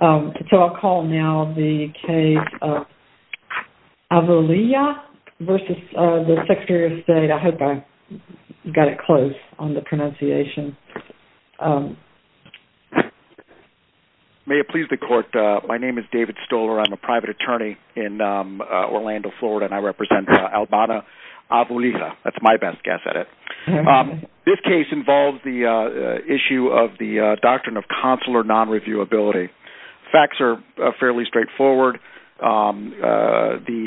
May it please the court, my name is David Stoller. I'm a private attorney in Orlando, Florida and I represent Albana Avulliia. That's my best guess at it. This case involves the issue of the doctrine of consular non-reviewability. Facts are fairly straightforward. The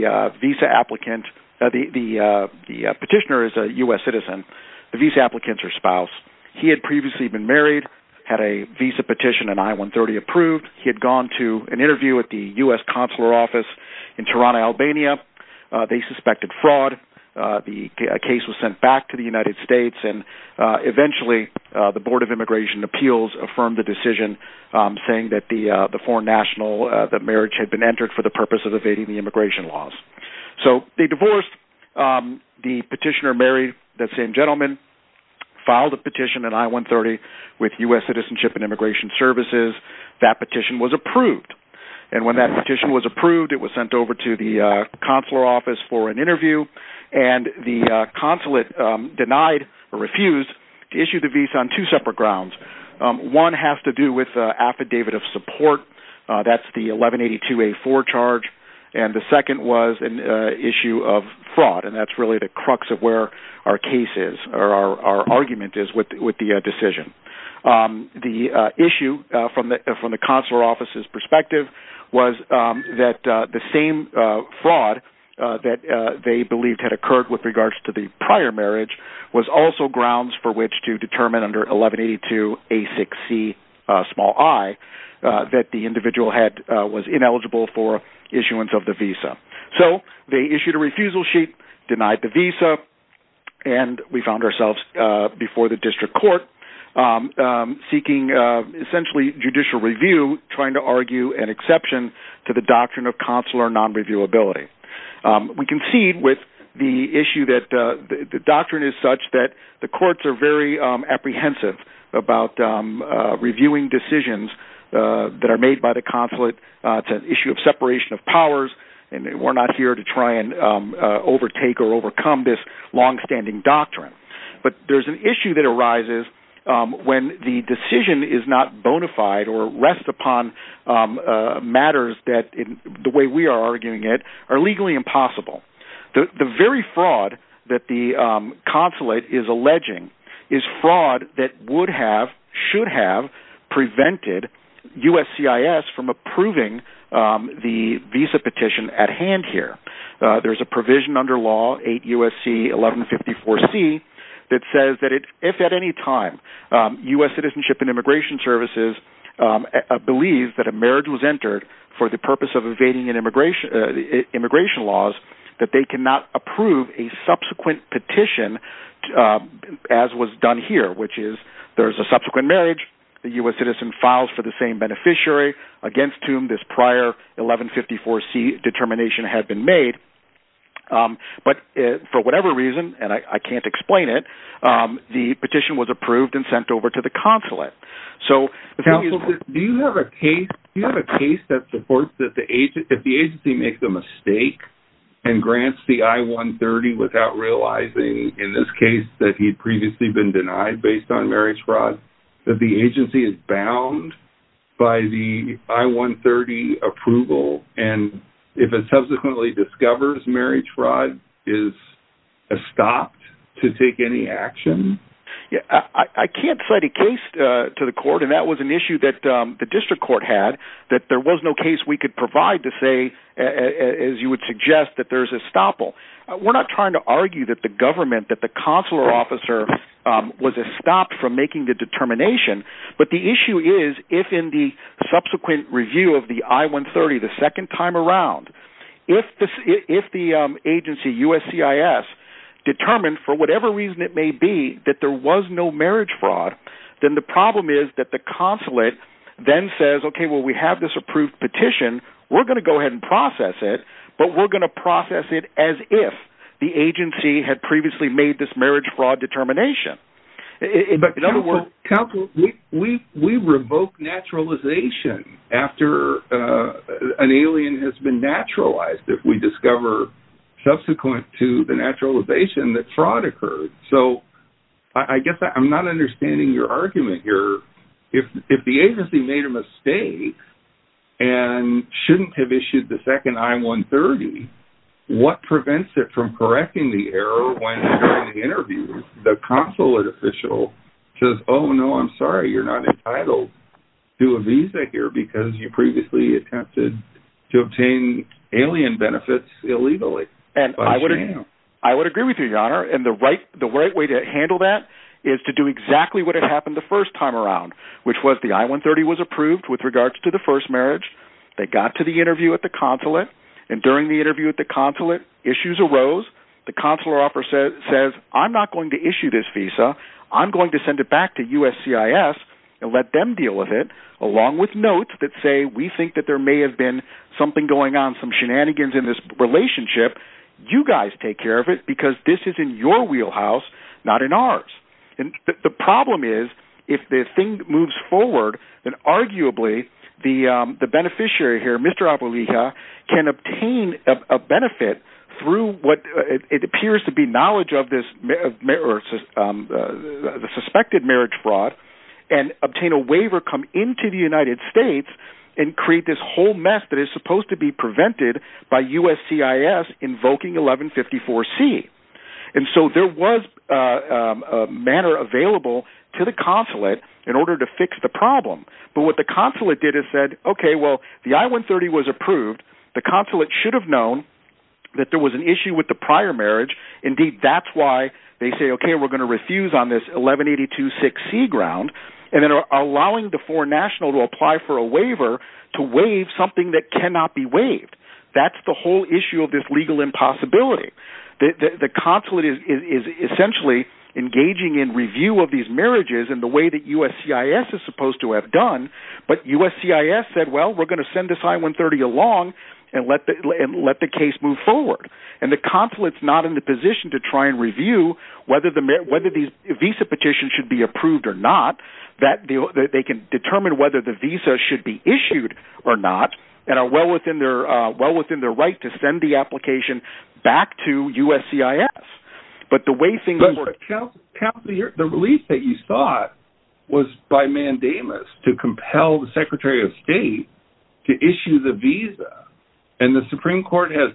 petitioner is a U.S. citizen. The visa applicants are spouses. He had previously been married, had a visa petition in I-130 approved. He had gone to an interview at the U.S. consular office in Toronto, Albania. They suspected fraud. The case was sent back to the United affirmed the decision saying that the marriage had been entered for the purpose of evading the immigration laws. So they divorced. The petitioner married the same gentleman, filed a petition in I-130 with U.S. Citizenship and Immigration Services. That petition was approved. And when that petition was approved, it was sent over to the consular office for an One has to do with affidavit of support. That's the 1182A4 charge. And the second was an issue of fraud. And that's really the crux of where our case is or our argument is with the decision. The issue from the consular office's perspective was that the same fraud that they believed had occurred with regards to the prior marriage was also grounds for which to determine under 1182A6Ci that the individual was ineligible for issuance of the visa. So they issued a refusal sheet, denied the visa, and we found ourselves before the district court seeking essentially judicial review, trying to argue an exception to the doctrine of consular non-reviewability. We concede with the issue that the doctrine is such that the courts are very apprehensive about reviewing decisions that are made by the consulate. It's an issue of separation of powers, and we're not here to try and overtake or overcome this longstanding doctrine. But there's an issue that arises when the decision is not bona fide or rests upon matters that, the way we are arguing it, are legally impossible. The very fraud that the consulate is alleging is fraud that would have, should have, prevented USCIS from approving the visa petition at hand here. There's a provision under law, 8 U.S.C. 1154C, that says that if at any time U.S. Citizenship and Immigration Services believe that a marriage was entered for the purpose of evading immigration laws, that they cannot approve a subsequent petition, as was done here, which is, there's a subsequent marriage, the U.S. Citizen files for the same beneficiary, against whom this prior 1154C determination had been made. But for whatever reason, and I can't explain it, the petition was approved and sent over to the consulate. So the thing is... Counsel, do you have a case that supports that if the agency makes a mistake and grants the I-130 without realizing, in this case, that he'd previously been denied based on marriage fraud, that the agency is bound by the I-130 approval? And if it subsequently discovers marriage fraud is stopped to take any action? Yeah, I can't cite a case to the court, and that was an issue that the district court had, that there was no case we could provide to say, as you would suggest, that there's a stopple. We're not trying to argue that the government, that the consular officer was stopped from making the determination. But the issue is, if in the subsequent review of the time around, if the agency, USCIS, determined, for whatever reason it may be, that there was no marriage fraud, then the problem is that the consulate then says, okay, well, we have this approved petition, we're going to go ahead and process it, but we're going to process it as if the agency had previously made this marriage fraud determination. But in other words... We revoke naturalization after an alien has been naturalized, if we discover, subsequent to the naturalization, that fraud occurred. So I guess I'm not understanding your argument here. If the agency made a mistake and shouldn't have issued the second I-130, what prevents it from correcting the error when, during the interview, the consulate official says, oh, no, I'm sorry, you're not entitled to a visa here because you previously attempted to obtain alien benefits illegally. I would agree with you, your honor. And the right way to handle that is to do exactly what had happened the first time around, which was the I-130 was approved with regards to the first marriage. They got to the interview at the consulate, and during the interview at the consulate, issues arose. The consular officer says, I'm not going to issue this visa. I'm going to send it back to USCIS and let them deal with it, along with notes that say, we think that there may have been something going on, some shenanigans in this relationship. You guys take care of it because this is in your wheelhouse, not in ours. And the problem is, if this thing moves forward, then arguably the beneficiary here, Mr. Apulia, can obtain a benefit through what appears to be knowledge of the suspected marriage fraud, and obtain a waiver, come into the United States, and create this whole mess that is supposed to be prevented by USCIS invoking 1154C. And so there was a manner available to the consulate in order to fix the problem. But what the consulate did is said, okay, well, the I-130 was approved. The consulate should have known that there was an issue with the prior marriage. Indeed, that's why they say, okay, we're going to refuse on this 1182C ground, and then allowing the foreign national to apply for a waiver to waive something that cannot be waived. That's the whole issue of this legal impossibility. The consulate is essentially engaging in review of these marriages in the way that USCIS is supposed to have done. But USCIS said, well, we're going to send this I-130 along and let the case move forward. And the consulate's not in the position to try and review whether these visa petitions should be approved or not, that they can determine whether the visa should be issued or not, and are well within their right to send the application back to USCIS. But the way things were- But the release that you thought was by mandamus to compel the Secretary of State to issue the visa, and the Supreme Court has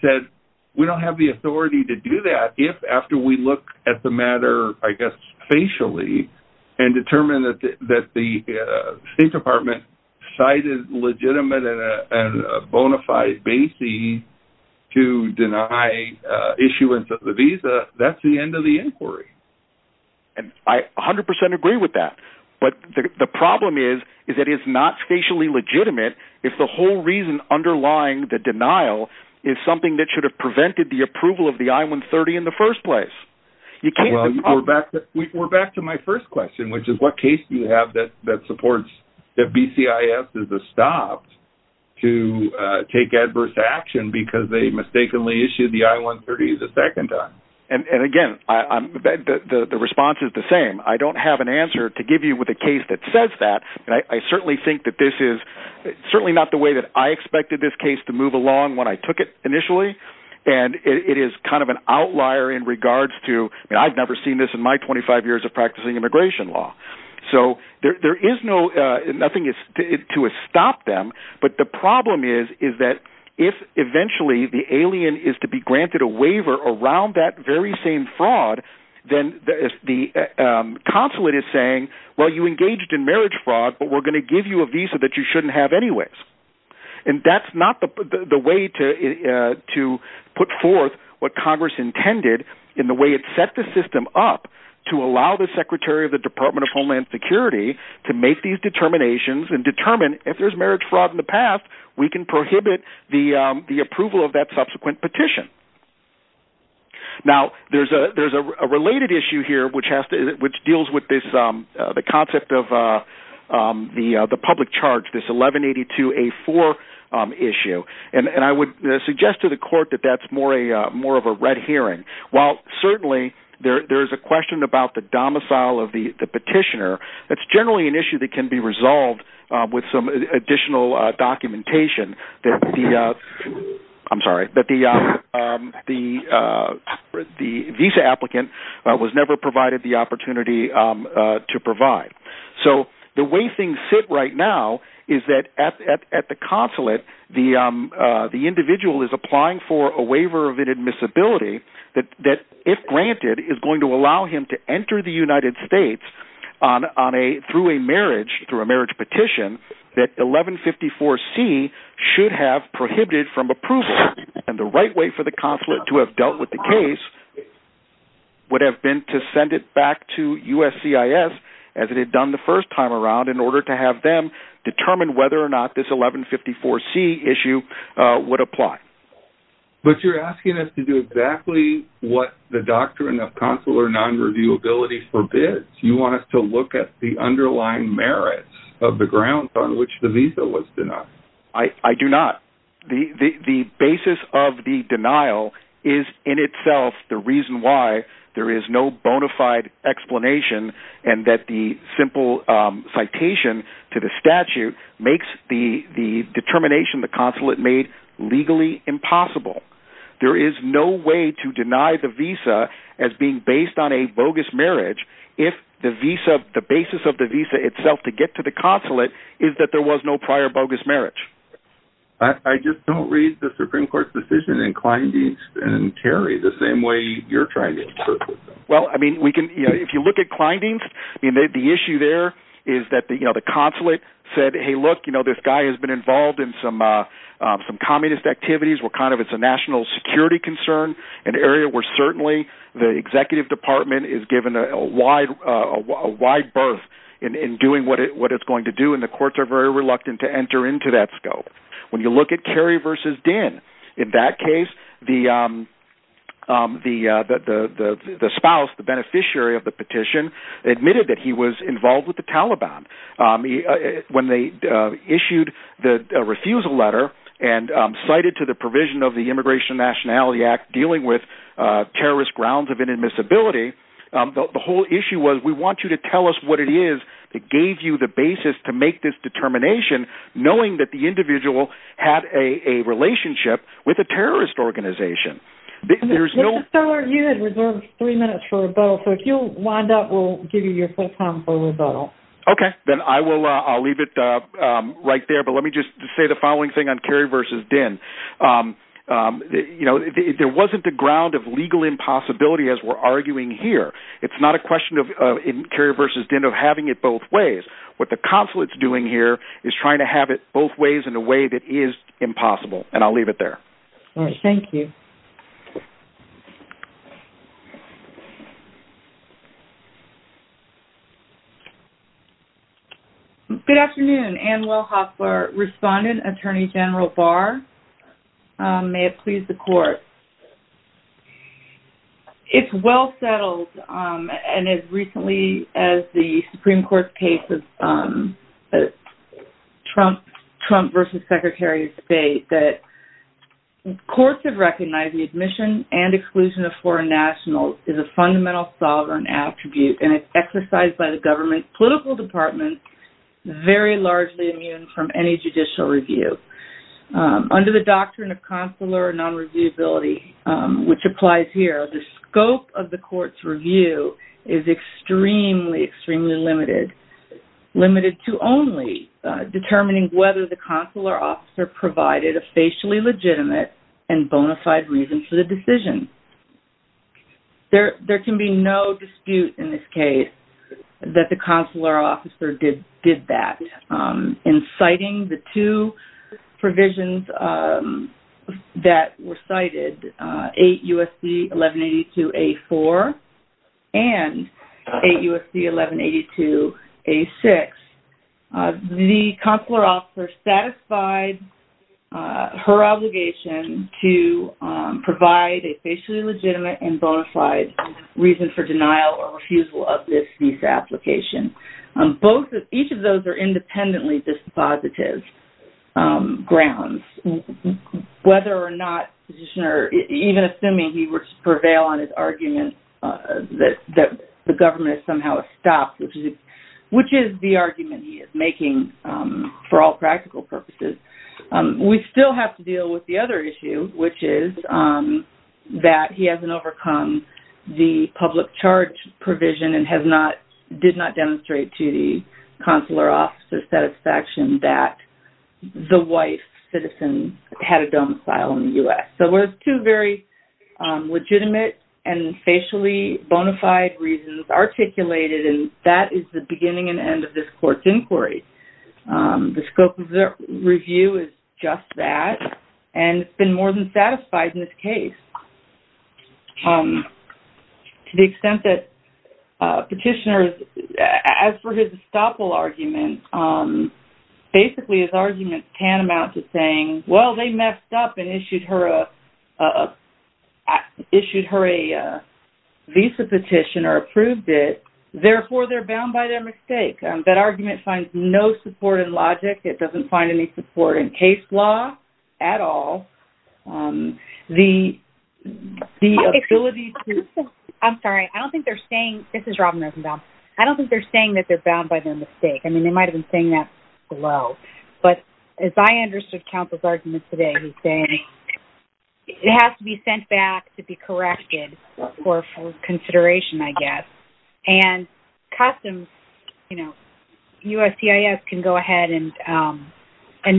said, we don't have the authority to do that if, after we look at the matter, I guess, facially, and determine that the State Department cited legitimate and bona fide bases to deny issuance of the visa, that's the end of the inquiry. And I 100% agree with that. But the problem is, is that it's not facially legitimate if the whole reason underlying the denial is something that should have prevented the approval of the I-130 in the first place. You can't- Well, we're back to my first question, which is what case do you have that supports that BCIS is stopped to take adverse action because they mistakenly issued the I-130 the second time? And again, the response is the same. I don't have an answer to give you with a case that says that, and I certainly think that this is certainly not the way that I expected this case to move along when I took it initially. And it is kind of an outlier in regards to, I mean, I've never seen this in my 25 years of practicing immigration law. So there is no, nothing is to stop them. But the problem is, is that if eventually the alien is to be granted a waiver around that very same fraud, then the consulate is saying, well, you engaged in marriage fraud, but we're going to give you a visa that you shouldn't have anyways. And that's not the way to put forth what Congress intended in the way it set the system up to allow the Secretary of the Department of Homeland Security to make these determinations and determine if there's marriage fraud in the past, we can prohibit the approval of that subsequent petition. Now, there's a related issue here, which deals with the concept of the public charge, this 1182A4 issue. And I would suggest to the court that that's more of a red herring. While certainly there's a question about the domicile of the petitioner, that's generally an issue that can be resolved with some additional documentation that the, I'm sorry, that the visa applicant was never provided the opportunity to provide. So the way things sit right now is that at the consulate, the individual is to allow him to enter the United States on a, through a marriage, through a marriage petition that 1154C should have prohibited from approval. And the right way for the consulate to have dealt with the case would have been to send it back to USCIS as it had done the first time around in order to have them determine whether or not this 1154C issue would apply. But you're asking us to exactly what the doctrine of consular non-reviewability forbids. You want us to look at the underlying merits of the grounds on which the visa was denied. I do not. The basis of the denial is in itself the reason why there is no bona fide explanation and that the simple citation to the statute makes the determination the consulate made legally impossible. There is no way to deny the visa as being based on a bogus marriage if the basis of the visa itself to get to the consulate is that there was no prior bogus marriage. I just don't read the Supreme Court decision in Kleindienst and Kerry the same way you're trying to interpret them. Well, I mean, if you look at Kleindienst, the issue there is that the consulate said, hey, look, this guy has been involved in some communist activities. It's a national security concern, an area where certainly the executive department is given a wide berth in doing what it's going to do, and the courts are very reluctant to enter into that scope. When you look at Kerry versus Dinn, in that case, the spouse, the beneficiary of the petition, admitted that he was involved with the Taliban. When they issued the refusal letter and cited to the provision of the Immigration Nationality Act dealing with terrorist grounds of inadmissibility, the whole issue was, we want you to tell us what it is that gave you the basis to make this determination, knowing that the individual had a relationship with a terrorist organization. There's no... Mr. Stoller, you had reserved three minutes for rebuttal, so if you'll wind up, we'll give you your full time for rebuttal. Okay, then I'll leave it right there, but let me just say the following thing on Kerry versus Dinn. There wasn't a ground of legal impossibility, as we're arguing here. It's not a question in having it both ways. What the consulate's doing here is trying to have it both ways in a way that is impossible, and I'll leave it there. Thank you. Good afternoon. Ann Wellhoff, respondent, Attorney General Barr. May it please the court. It's well settled, and as recently as the Supreme Court's case of Trump versus Secretary of State, that courts have recognized the admission and exclusion of foreign nationals is a fundamental sovereign attribute, and it's exercised by the government's political department, very largely immune from any judicial review. Under the doctrine of consular non-reviewability, which applies here, the scope of the court's review is extremely, extremely limited, limited to only determining whether the consular officer provided a facially legitimate and bona fide reason for the decision. There can be no dispute in this case that the cited 8 U.S.C. 1182-A-4 and 8 U.S.C. 1182-A-6, the consular officer satisfied her obligation to provide a facially legitimate and bona fide reason for denial or refusal of this visa application. Both, each of those are independently dispositive grounds, whether or not the petitioner, even assuming he would prevail on his argument that the government has somehow stopped, which is the argument he is making for all practical purposes. We still have to deal with the other issue, which is that he hasn't overcome the public charge provision and has not, did not demonstrate to the consular officer's satisfaction that the white citizen had a domicile in the U.S. So, there's two very legitimate and facially bona fide reasons articulated, and that is the beginning and end of this court's inquiry. The scope of the review is just that, and it's been more than satisfied in this case. So, to the extent that petitioners, as for his estoppel argument, basically his argument can amount to saying, well, they messed up and issued her a visa petition or approved it, therefore they're bound by their mistake. That argument finds no support in logic. It doesn't find any support in case law at all. The ability to... I'm sorry. I don't think they're saying, this is Robin Risenbaum. I don't think they're saying that they're bound by their mistake. I mean, they might have been saying that below, but as I understood counsel's argument today, he's saying it has to be sent back to be corrected for consideration, I guess. And customs, USCIS can go ahead and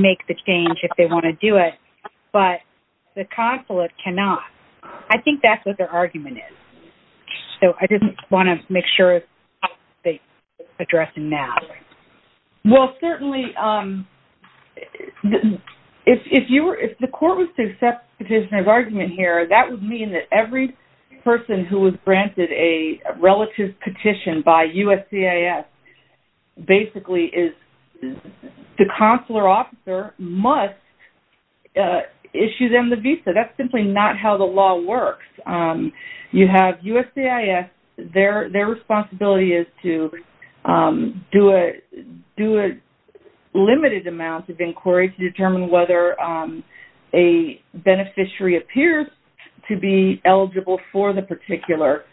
make the change if they want to do it, but the consulate cannot. I think that's what their argument is. So, I didn't want to make sure they're addressing that. Well, certainly, if the court was to accept the petitioner's argument here, that would mean that person who was granted a relative petition by USCIS basically is the consular officer must issue them the visa. That's simply not how the law works. You have USCIS, their responsibility is to do a limited amount of inquiry to determine whether a beneficiary appears to be eligible for the particular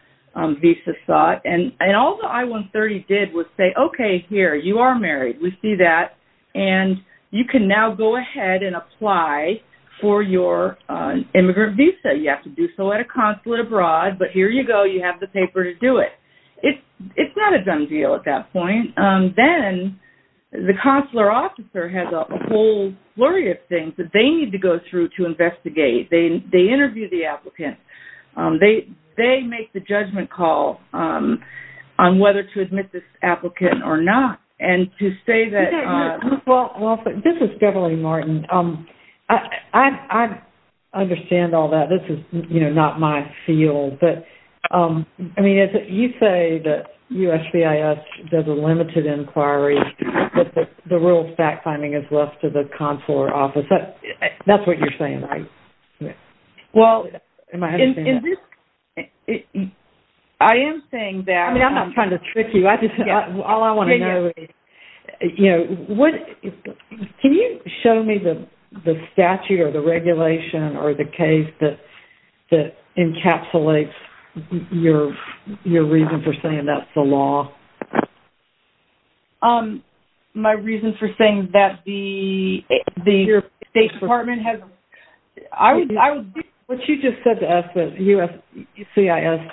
visa sought. And all the I-130 did was say, okay, here, you are married. We see that. And you can now go ahead and apply for your immigrant visa. You have to do so at a consulate abroad, but here you go, you have the paper to do it. It's not a done deal at that point. Then, the consular officer has a whole flurry of things that they need to go through to investigate. They interview the applicant. They make the judgment call on whether to admit this applicant or not. And to say that... Well, this is Debra Lee Martin. I understand all that. This is, you know, not my field. But, I mean, you say that USCIS does a limited inquiry, but the real fact-finding is left to the consular officer. That's what you're saying, right? Well, I am saying that... I mean, I'm not trying to trick you. All I want to know is... You know, can you show me the statute or the regulation or the case that encapsulates your reason for saying that's the law? My reasons for saying that the State Department has... What you just said to us that USCIS,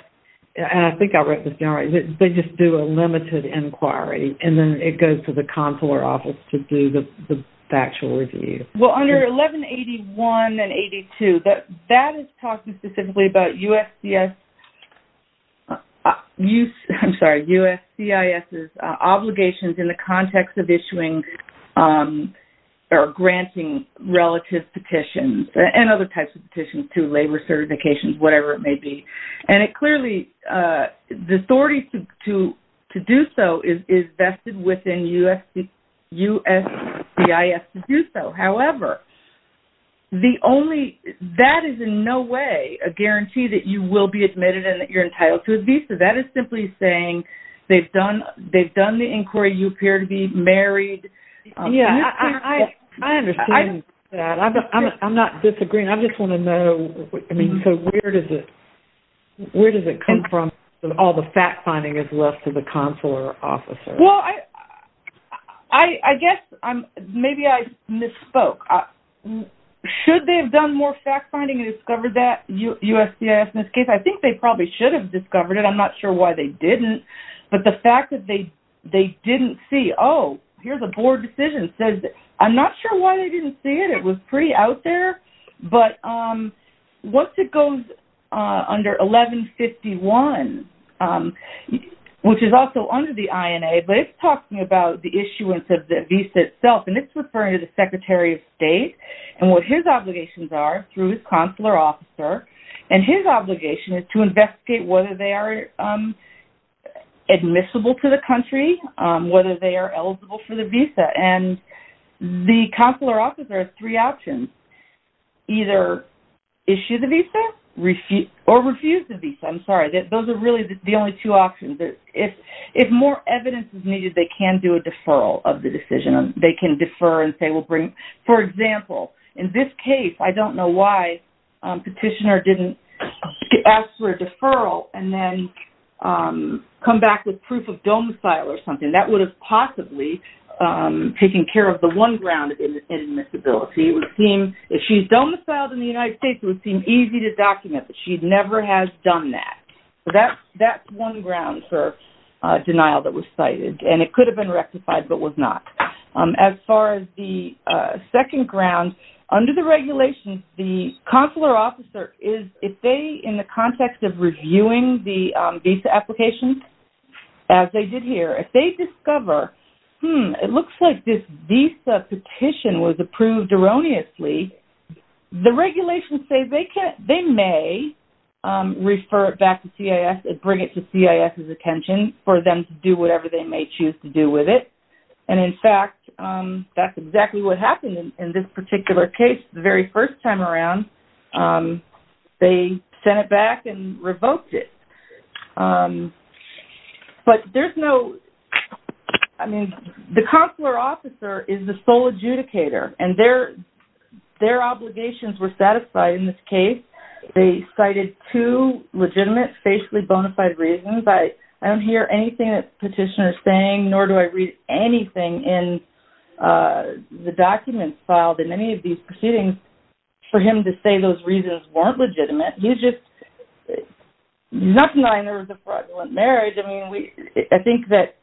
and I think I read this down right, they just do a limited inquiry and then it goes to the consular office to do the actual review. Well, under 1181 and 82, that is talking specifically about USCIS's obligations in the context of issuing or granting relative petitions and other types of petitions to labor certifications, whatever it may be. And it clearly, the authority to do so is vested within USCIS to do so. However, that is in no way a guarantee that you will be admitted and that you're entitled to a visa. That is simply saying they've done the inquiry. You appear to be married. Yeah, I understand that. I'm not disagreeing. I just want to know, I mean, so where does it come from that all the fact-finding is left to the consular officer? Well, I guess maybe I misspoke. Should they have done more fact-finding and discovered that USCIS in this case? I think they probably should have discovered it. I'm not sure why they didn't. But the fact that they didn't see, oh, here's a board decision. So I'm not sure why they didn't see it. It was pretty out there. But once it goes under 1151, which is also under the INA, but it's talking about the issuance of the visa itself. And it's referring to the Secretary of State and what his obligations are through his consular officer. And his obligation is to investigate whether they are admissible to the country, whether they are eligible for the visa. And the consular officer has three options. Either issue the visa or refuse the visa. I'm sorry. Those are really the only two options. If more evidence is needed, they can do a deferral of the decision. They can defer and say we'll bring. For example, in this case, I don't know petitioner didn't ask for a deferral and then come back with proof of domicile or something. That would have possibly taken care of the one ground of admissibility. It would seem if she's domiciled in the United States, it would seem easy to document that she never has done that. So that's one ground for denial that was cited. And it could have been rectified, but was not. As far as the second ground, under the regulations, the consular officer is, if they, in the context of reviewing the visa application, as they did here, if they discover, it looks like this visa petition was approved erroneously, the regulations say they may refer it back to CIS and bring it to CIS's attention for them to do whatever they may choose to do with it. And in fact, that's exactly what happened in this particular case. The very first time around, they sent it back and revoked it. But there's no, I mean, the consular officer is the sole adjudicator and their obligations were satisfied in this case. They cited two legitimate facially bona fide reasons. I don't hear anything that nor do I read anything in the documents filed in any of these proceedings for him to say those reasons weren't legitimate. He's just not denying there was a fraudulent marriage. I mean, I think that,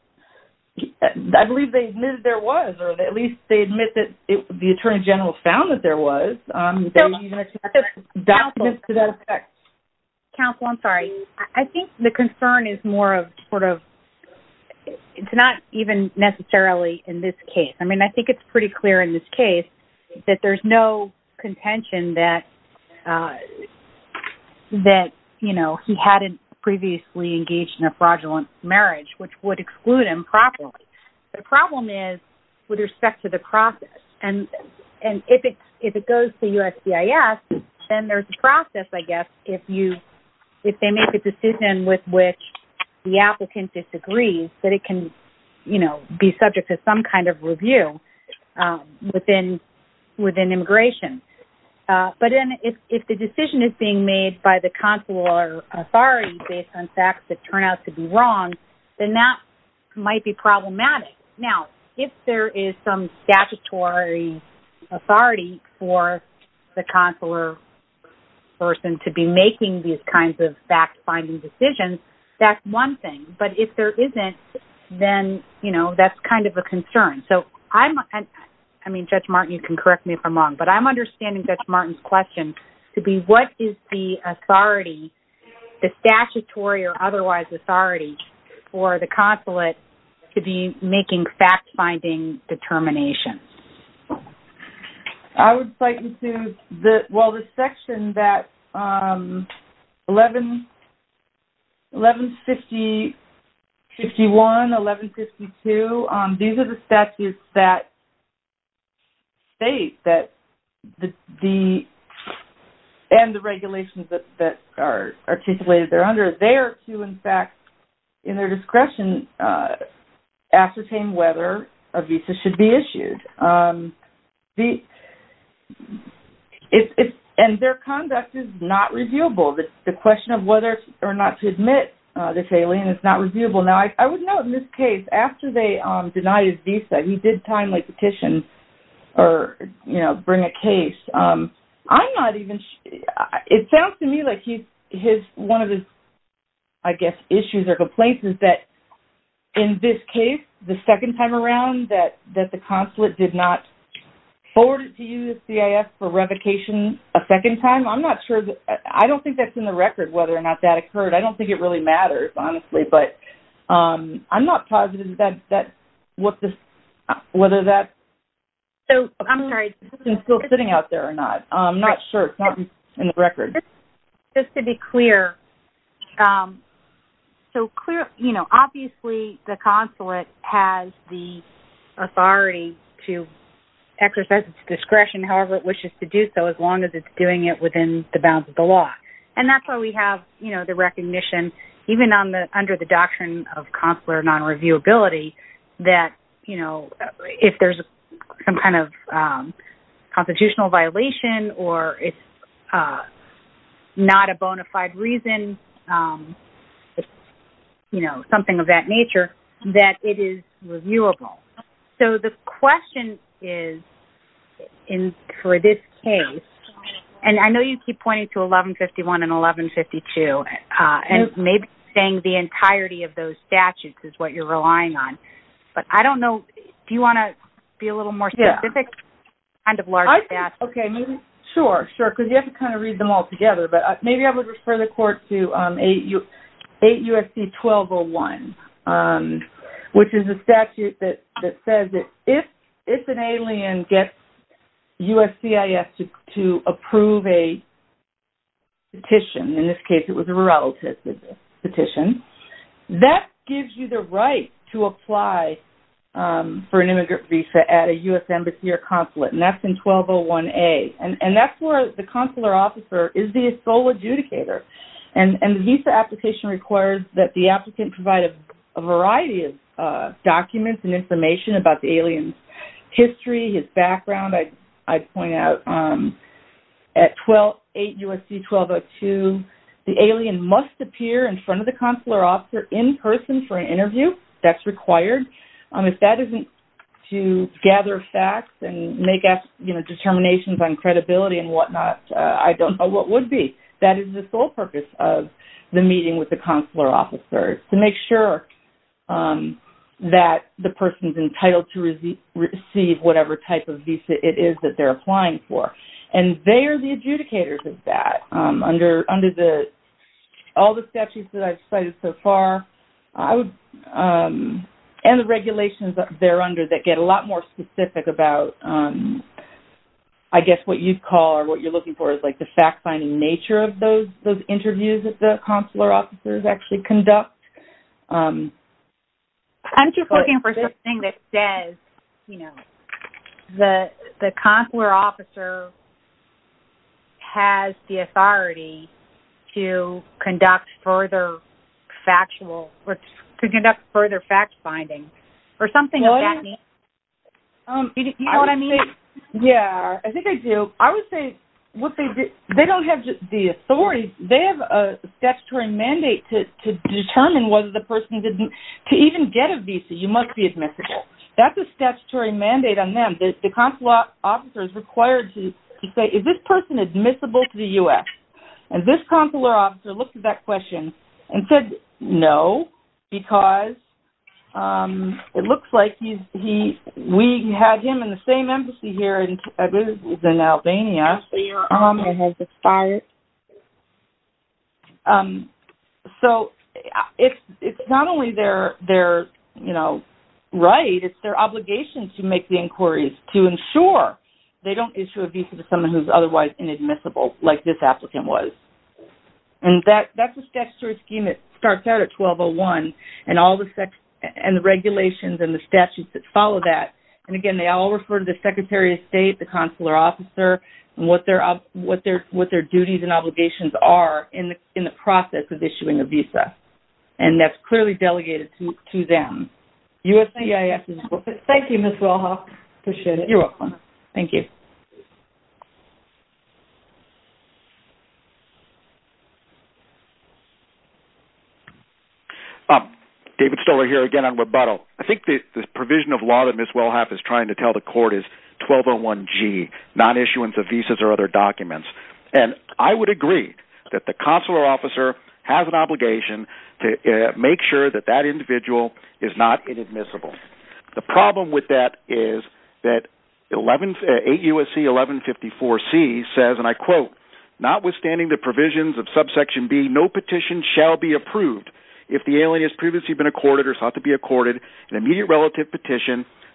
I believe they admitted there was, or at least they admit that the Attorney General found that there was documents to that effect. Counsel, I'm sorry. I think the concern is more of sort of, it's not even necessarily in this case. I mean, I think it's pretty clear in this case that there's no contention that he hadn't previously engaged in a fraudulent marriage, which would exclude him properly. The problem is with respect to the process. And if it goes to the applicant disagrees that it can be subject to some kind of review within immigration. But then if the decision is being made by the consular authority based on facts that turn out to be wrong, then that might be problematic. Now, if there is some statutory authority for the consular person to be making these kinds of fact-finding decisions, that's one thing. But if there isn't, then that's kind of a concern. So I'm, I mean, Judge Martin, you can correct me if I'm wrong, but I'm understanding Judge Martin's question to be what is the authority, the statutory or otherwise authority for the consulate to be making fact-finding determinations? I would cite into the, well, the section that 1150-51, 1152, these are the statutes that state that the, and the regulations that are articulated there under, they are to, in fact, in their discretion, ascertain whether a visa should be issued. And their conduct is not reviewable. The question of whether or not to admit this alien is not reviewable. Now, I would note in this case, after they denied his visa, he did timely petition or bring a case. I'm not even, it sounds to me like he, his, one of his, I guess, issues or complaints is that in this case, the second time around that the consulate did not forward it to you, the CIS, for revocation a second time. I'm not sure that, I don't think that's in the record whether or not that occurred. I don't think it really matters, honestly, but I'm not positive that what the, whether that. So, I'm sorry. Is the petition still sitting out there or not? I'm not sure. It's not in the record. Just to be clear, so clear, you know, obviously the consulate has the authority to exercise its discretion however it wishes to do so, as long as it's doing it within the bounds of the law. And that's why we have, you know, the recognition, even on the, under the doctrine of consular non-reviewability, that, you know, if there's some kind of constitutional violation or it's not a bona fide reason, it's, you know, something of that nature, that it is reviewable. So, the question is in, for this case, and I know you keep pointing to 1151 and 1152, and maybe saying the entirety of those statutes is what you're relying on, but I don't know, do you want to be a little more specific? Yeah. Kind of larger statute. Okay, maybe, sure, sure, because you have to kind of read them all together, but maybe I would refer the court to 8 U.S.C. 1201, which is a statute that says that if an alien gets USCIS to approve a petition, in this case it was a relative petition, that gives you the right to apply for an immigrant visa at a U.S. embassy or consulate, and that's in 1201A. And that's where the consular officer is the sole adjudicator. And the visa application requires that the applicant provide a variety of history, his background. I'd point out at 8 U.S.C. 1202, the alien must appear in front of the consular officer in person for an interview. That's required. If that isn't to gather facts and make, you know, determinations on credibility and whatnot, I don't know what would be. That is the sole purpose of the meeting with the consular officer, to make sure that the person's entitled to receive whatever type of visa it is that they're applying for. And they are the adjudicators of that. Under all the statutes that I've cited so far, and the regulations there under that get a lot more specific about, I guess, what you'd call or what you're looking for is like the fact-finding nature of those interviews that the consular officers actually conduct. I'm just looking for something that says, you know, the consular officer has the authority to conduct further factual, to conduct further fact-finding or something like that. You know what I mean? Yeah, I think I do. I would say what they do, the authorities, they have a statutory mandate to determine whether the person did, to even get a visa, you must be admissible. That's a statutory mandate on them. The consular officer is required to say, is this person admissible to the U.S.? And this consular officer looked at that question and said, no, because it looks like we had him in the same environment. So, it's not only their, you know, right, it's their obligation to make the inquiries to ensure they don't issue a visa to someone who's otherwise inadmissible, like this applicant was. And that's a statutory scheme that starts out at 1201 and all the regulations and the statutes that follow that. And again, they all refer to the Secretary of State, the consular officer, and what their duties and obligations are in the process of issuing a visa. And that's clearly delegated to them. Thank you, Ms. Welhoff. Appreciate it. You're welcome. Thank you. David Stoller here again on Weboto. I think the provision of law that Ms. Welhoff is trying to tell the court is 1201G, non-issuance of visas or other documents. And I would agree that the consular officer has an obligation to make sure that that individual is not inadmissible. The problem with that is that 8 U.S.C. 1154C says, and I quote, notwithstanding the provisions of subsection B, no petition shall be approved if the alien has previously been accorded or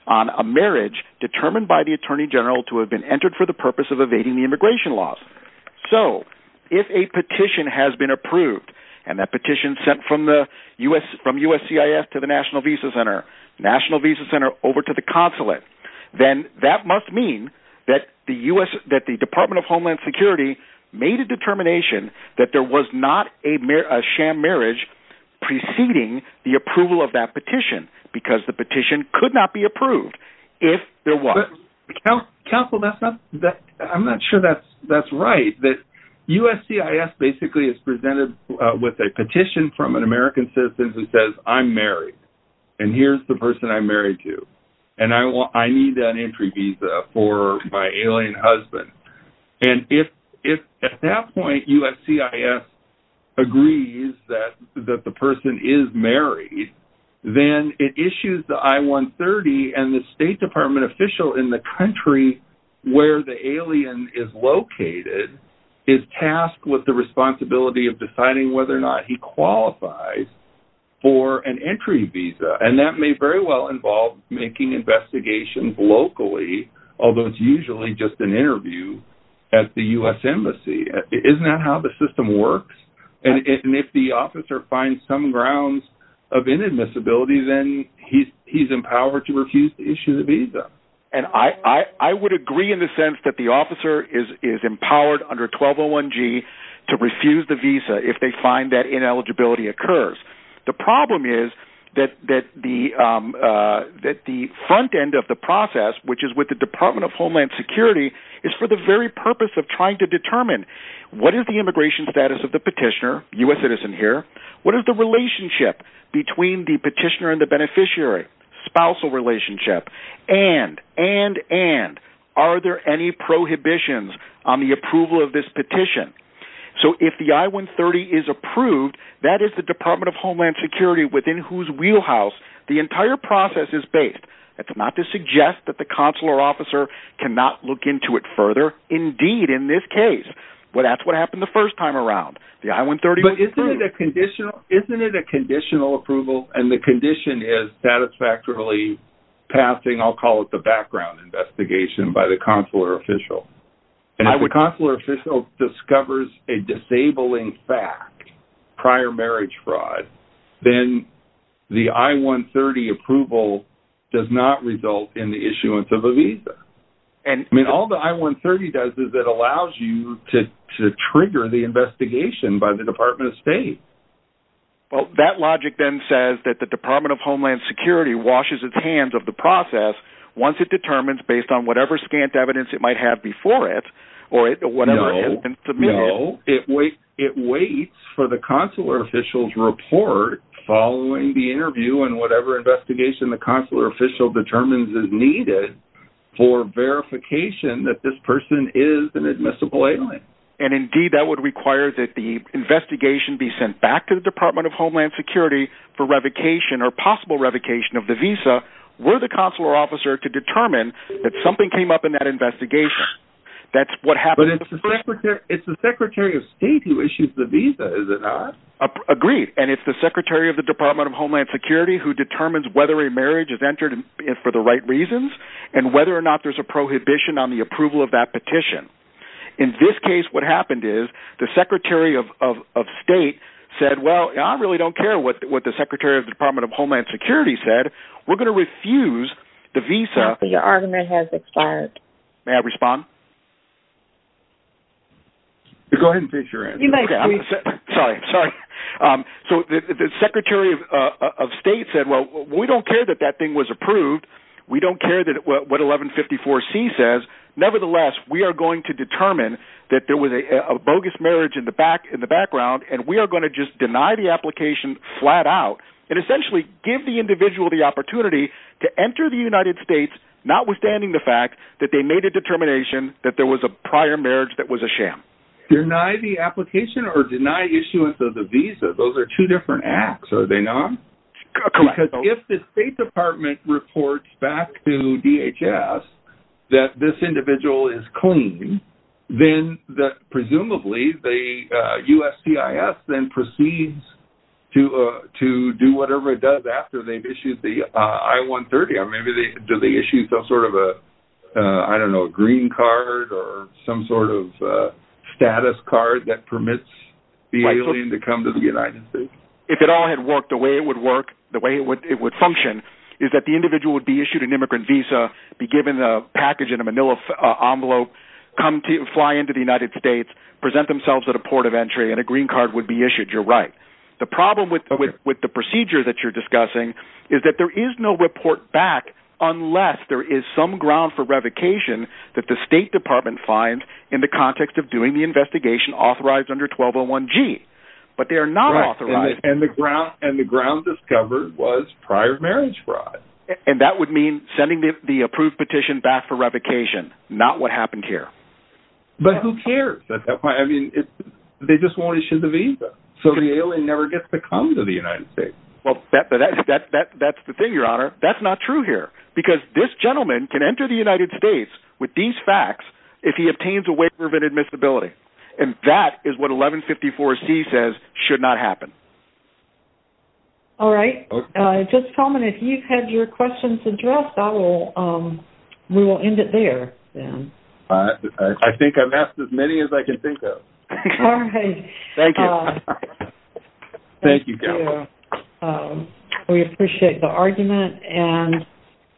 a marriage determined by the Attorney General to have been entered for the purpose of evading the immigration laws. So if a petition has been approved and that petition sent from the U.S., from USCIS to the National Visa Center, National Visa Center over to the consulate, then that must mean that the U.S., that the Department of Homeland Security made a determination that there was not a sham marriage preceding the approval of that petition because the petition could not be approved if there was. Counsel, that's not, I'm not sure that's right. That USCIS basically is presented with a petition from an American citizen who says, I'm married and here's the person I'm married to. And I need an entry visa for my alien husband. And if at that point USCIS agrees that the person is married, then it issues the I-130 and the State Department official in the country where the alien is located is tasked with the responsibility of deciding whether or not he qualifies for an entry visa. And that may very well involve making investigations locally, although it's usually just an interview at the U.S. Embassy. Isn't that how the system works? And if the officer finds some grounds of inadmissibility, then he's empowered to refuse to issue the visa. And I would agree in the sense that the officer is empowered under 1201G to refuse the visa if they find that ineligibility occurs. The problem is that the front end of the process, which is with the Department of Homeland Security, is for the very purpose of trying to determine what is the immigration status of the petitioner, U.S. citizen here, what is the relationship between the petitioner and the beneficiary, spousal relationship, and are there any prohibitions on the approval of this petition? So if the I-130 is approved, that is the Department of Homeland Security within whose wheelhouse the entire process is based. That's not to suggest that the consular officer cannot look into it further. Indeed, in this case, that's what happened the first time around. The I-130 was approved. But isn't it a conditional approval and the condition is satisfactorily passing, I'll call it the background investigation, by the consular official. And if the consular official discovers a disabling fact, prior marriage fraud, then the I-130 approval does not result in the issuance of a visa. I mean, all the I-130 does is that allows you to trigger the investigation by the Department of State. Well, that logic then says that the Department of Homeland Security washes its hands of the process once it determines based on whatever scant evidence it might have before it. No, it waits for the consular official's report following the interview and whatever investigation the consular official determines is needed for verification that this person is an admissible alien. And indeed, that would require that the investigation be sent back to the Department of Homeland Security for revocation of the visa were the consular officer to determine that something came up in that investigation. That's what happened. It's the Secretary of State who issues the visa, is it not? Agreed. And it's the Secretary of the Department of Homeland Security who determines whether a marriage is entered for the right reasons and whether or not there's a prohibition on the approval of that petition. In this case, what happened is the Secretary of State said, well, I really don't care what the Secretary of the Department of Homeland Security said. We're going to refuse the visa. Your argument has expired. May I respond? Go ahead and finish your answer. Sorry, sorry. So the Secretary of State said, well, we don't care that that thing was approved. We don't care what 1154C says. Nevertheless, we are going to determine that there was a bogus marriage in the background, and we are going to deny the application flat out and essentially give the individual the opportunity to enter the United States, notwithstanding the fact that they made a determination that there was a prior marriage that was a sham. Deny the application or deny issuance of the visa? Those are two different acts, are they not? Correct. Because if the State Department reports back to DHS that this individual is clean, then presumably the USCIS then proceeds to do whatever it does after they've issued the I-130, or maybe they issued some sort of a, I don't know, a green card or some sort of status card that permits the alien to come to the United States. If it all had worked the way it would work, the way it would function, is that the individual would be issued an immigrant visa, be given a package in a manila envelope, come to fly into the United States, present themselves at a port of entry, and a green card would be issued. You're right. The problem with the procedure that you're discussing is that there is no report back unless there is some ground for revocation that the State Department finds in the context of doing the investigation authorized under 1201G. But they're not authorized. And the ground discovered was prior marriage fraud. And that would mean sending the approved petition back for revocation, not what happened here. But who cares? I mean, they just won't issue the visa, so the alien never gets to come to the United States. Well, that's the thing, Your Honor. That's not true here. Because this gentleman can enter the United States with these facts if he obtains a waiver of admissibility. And that is what 1154C says should not happen. All right. Just tell me if you've had your questions addressed. We will end it there. I think I've asked as many as I can think of. Thank you. Thank you, Gail. We appreciate the argument.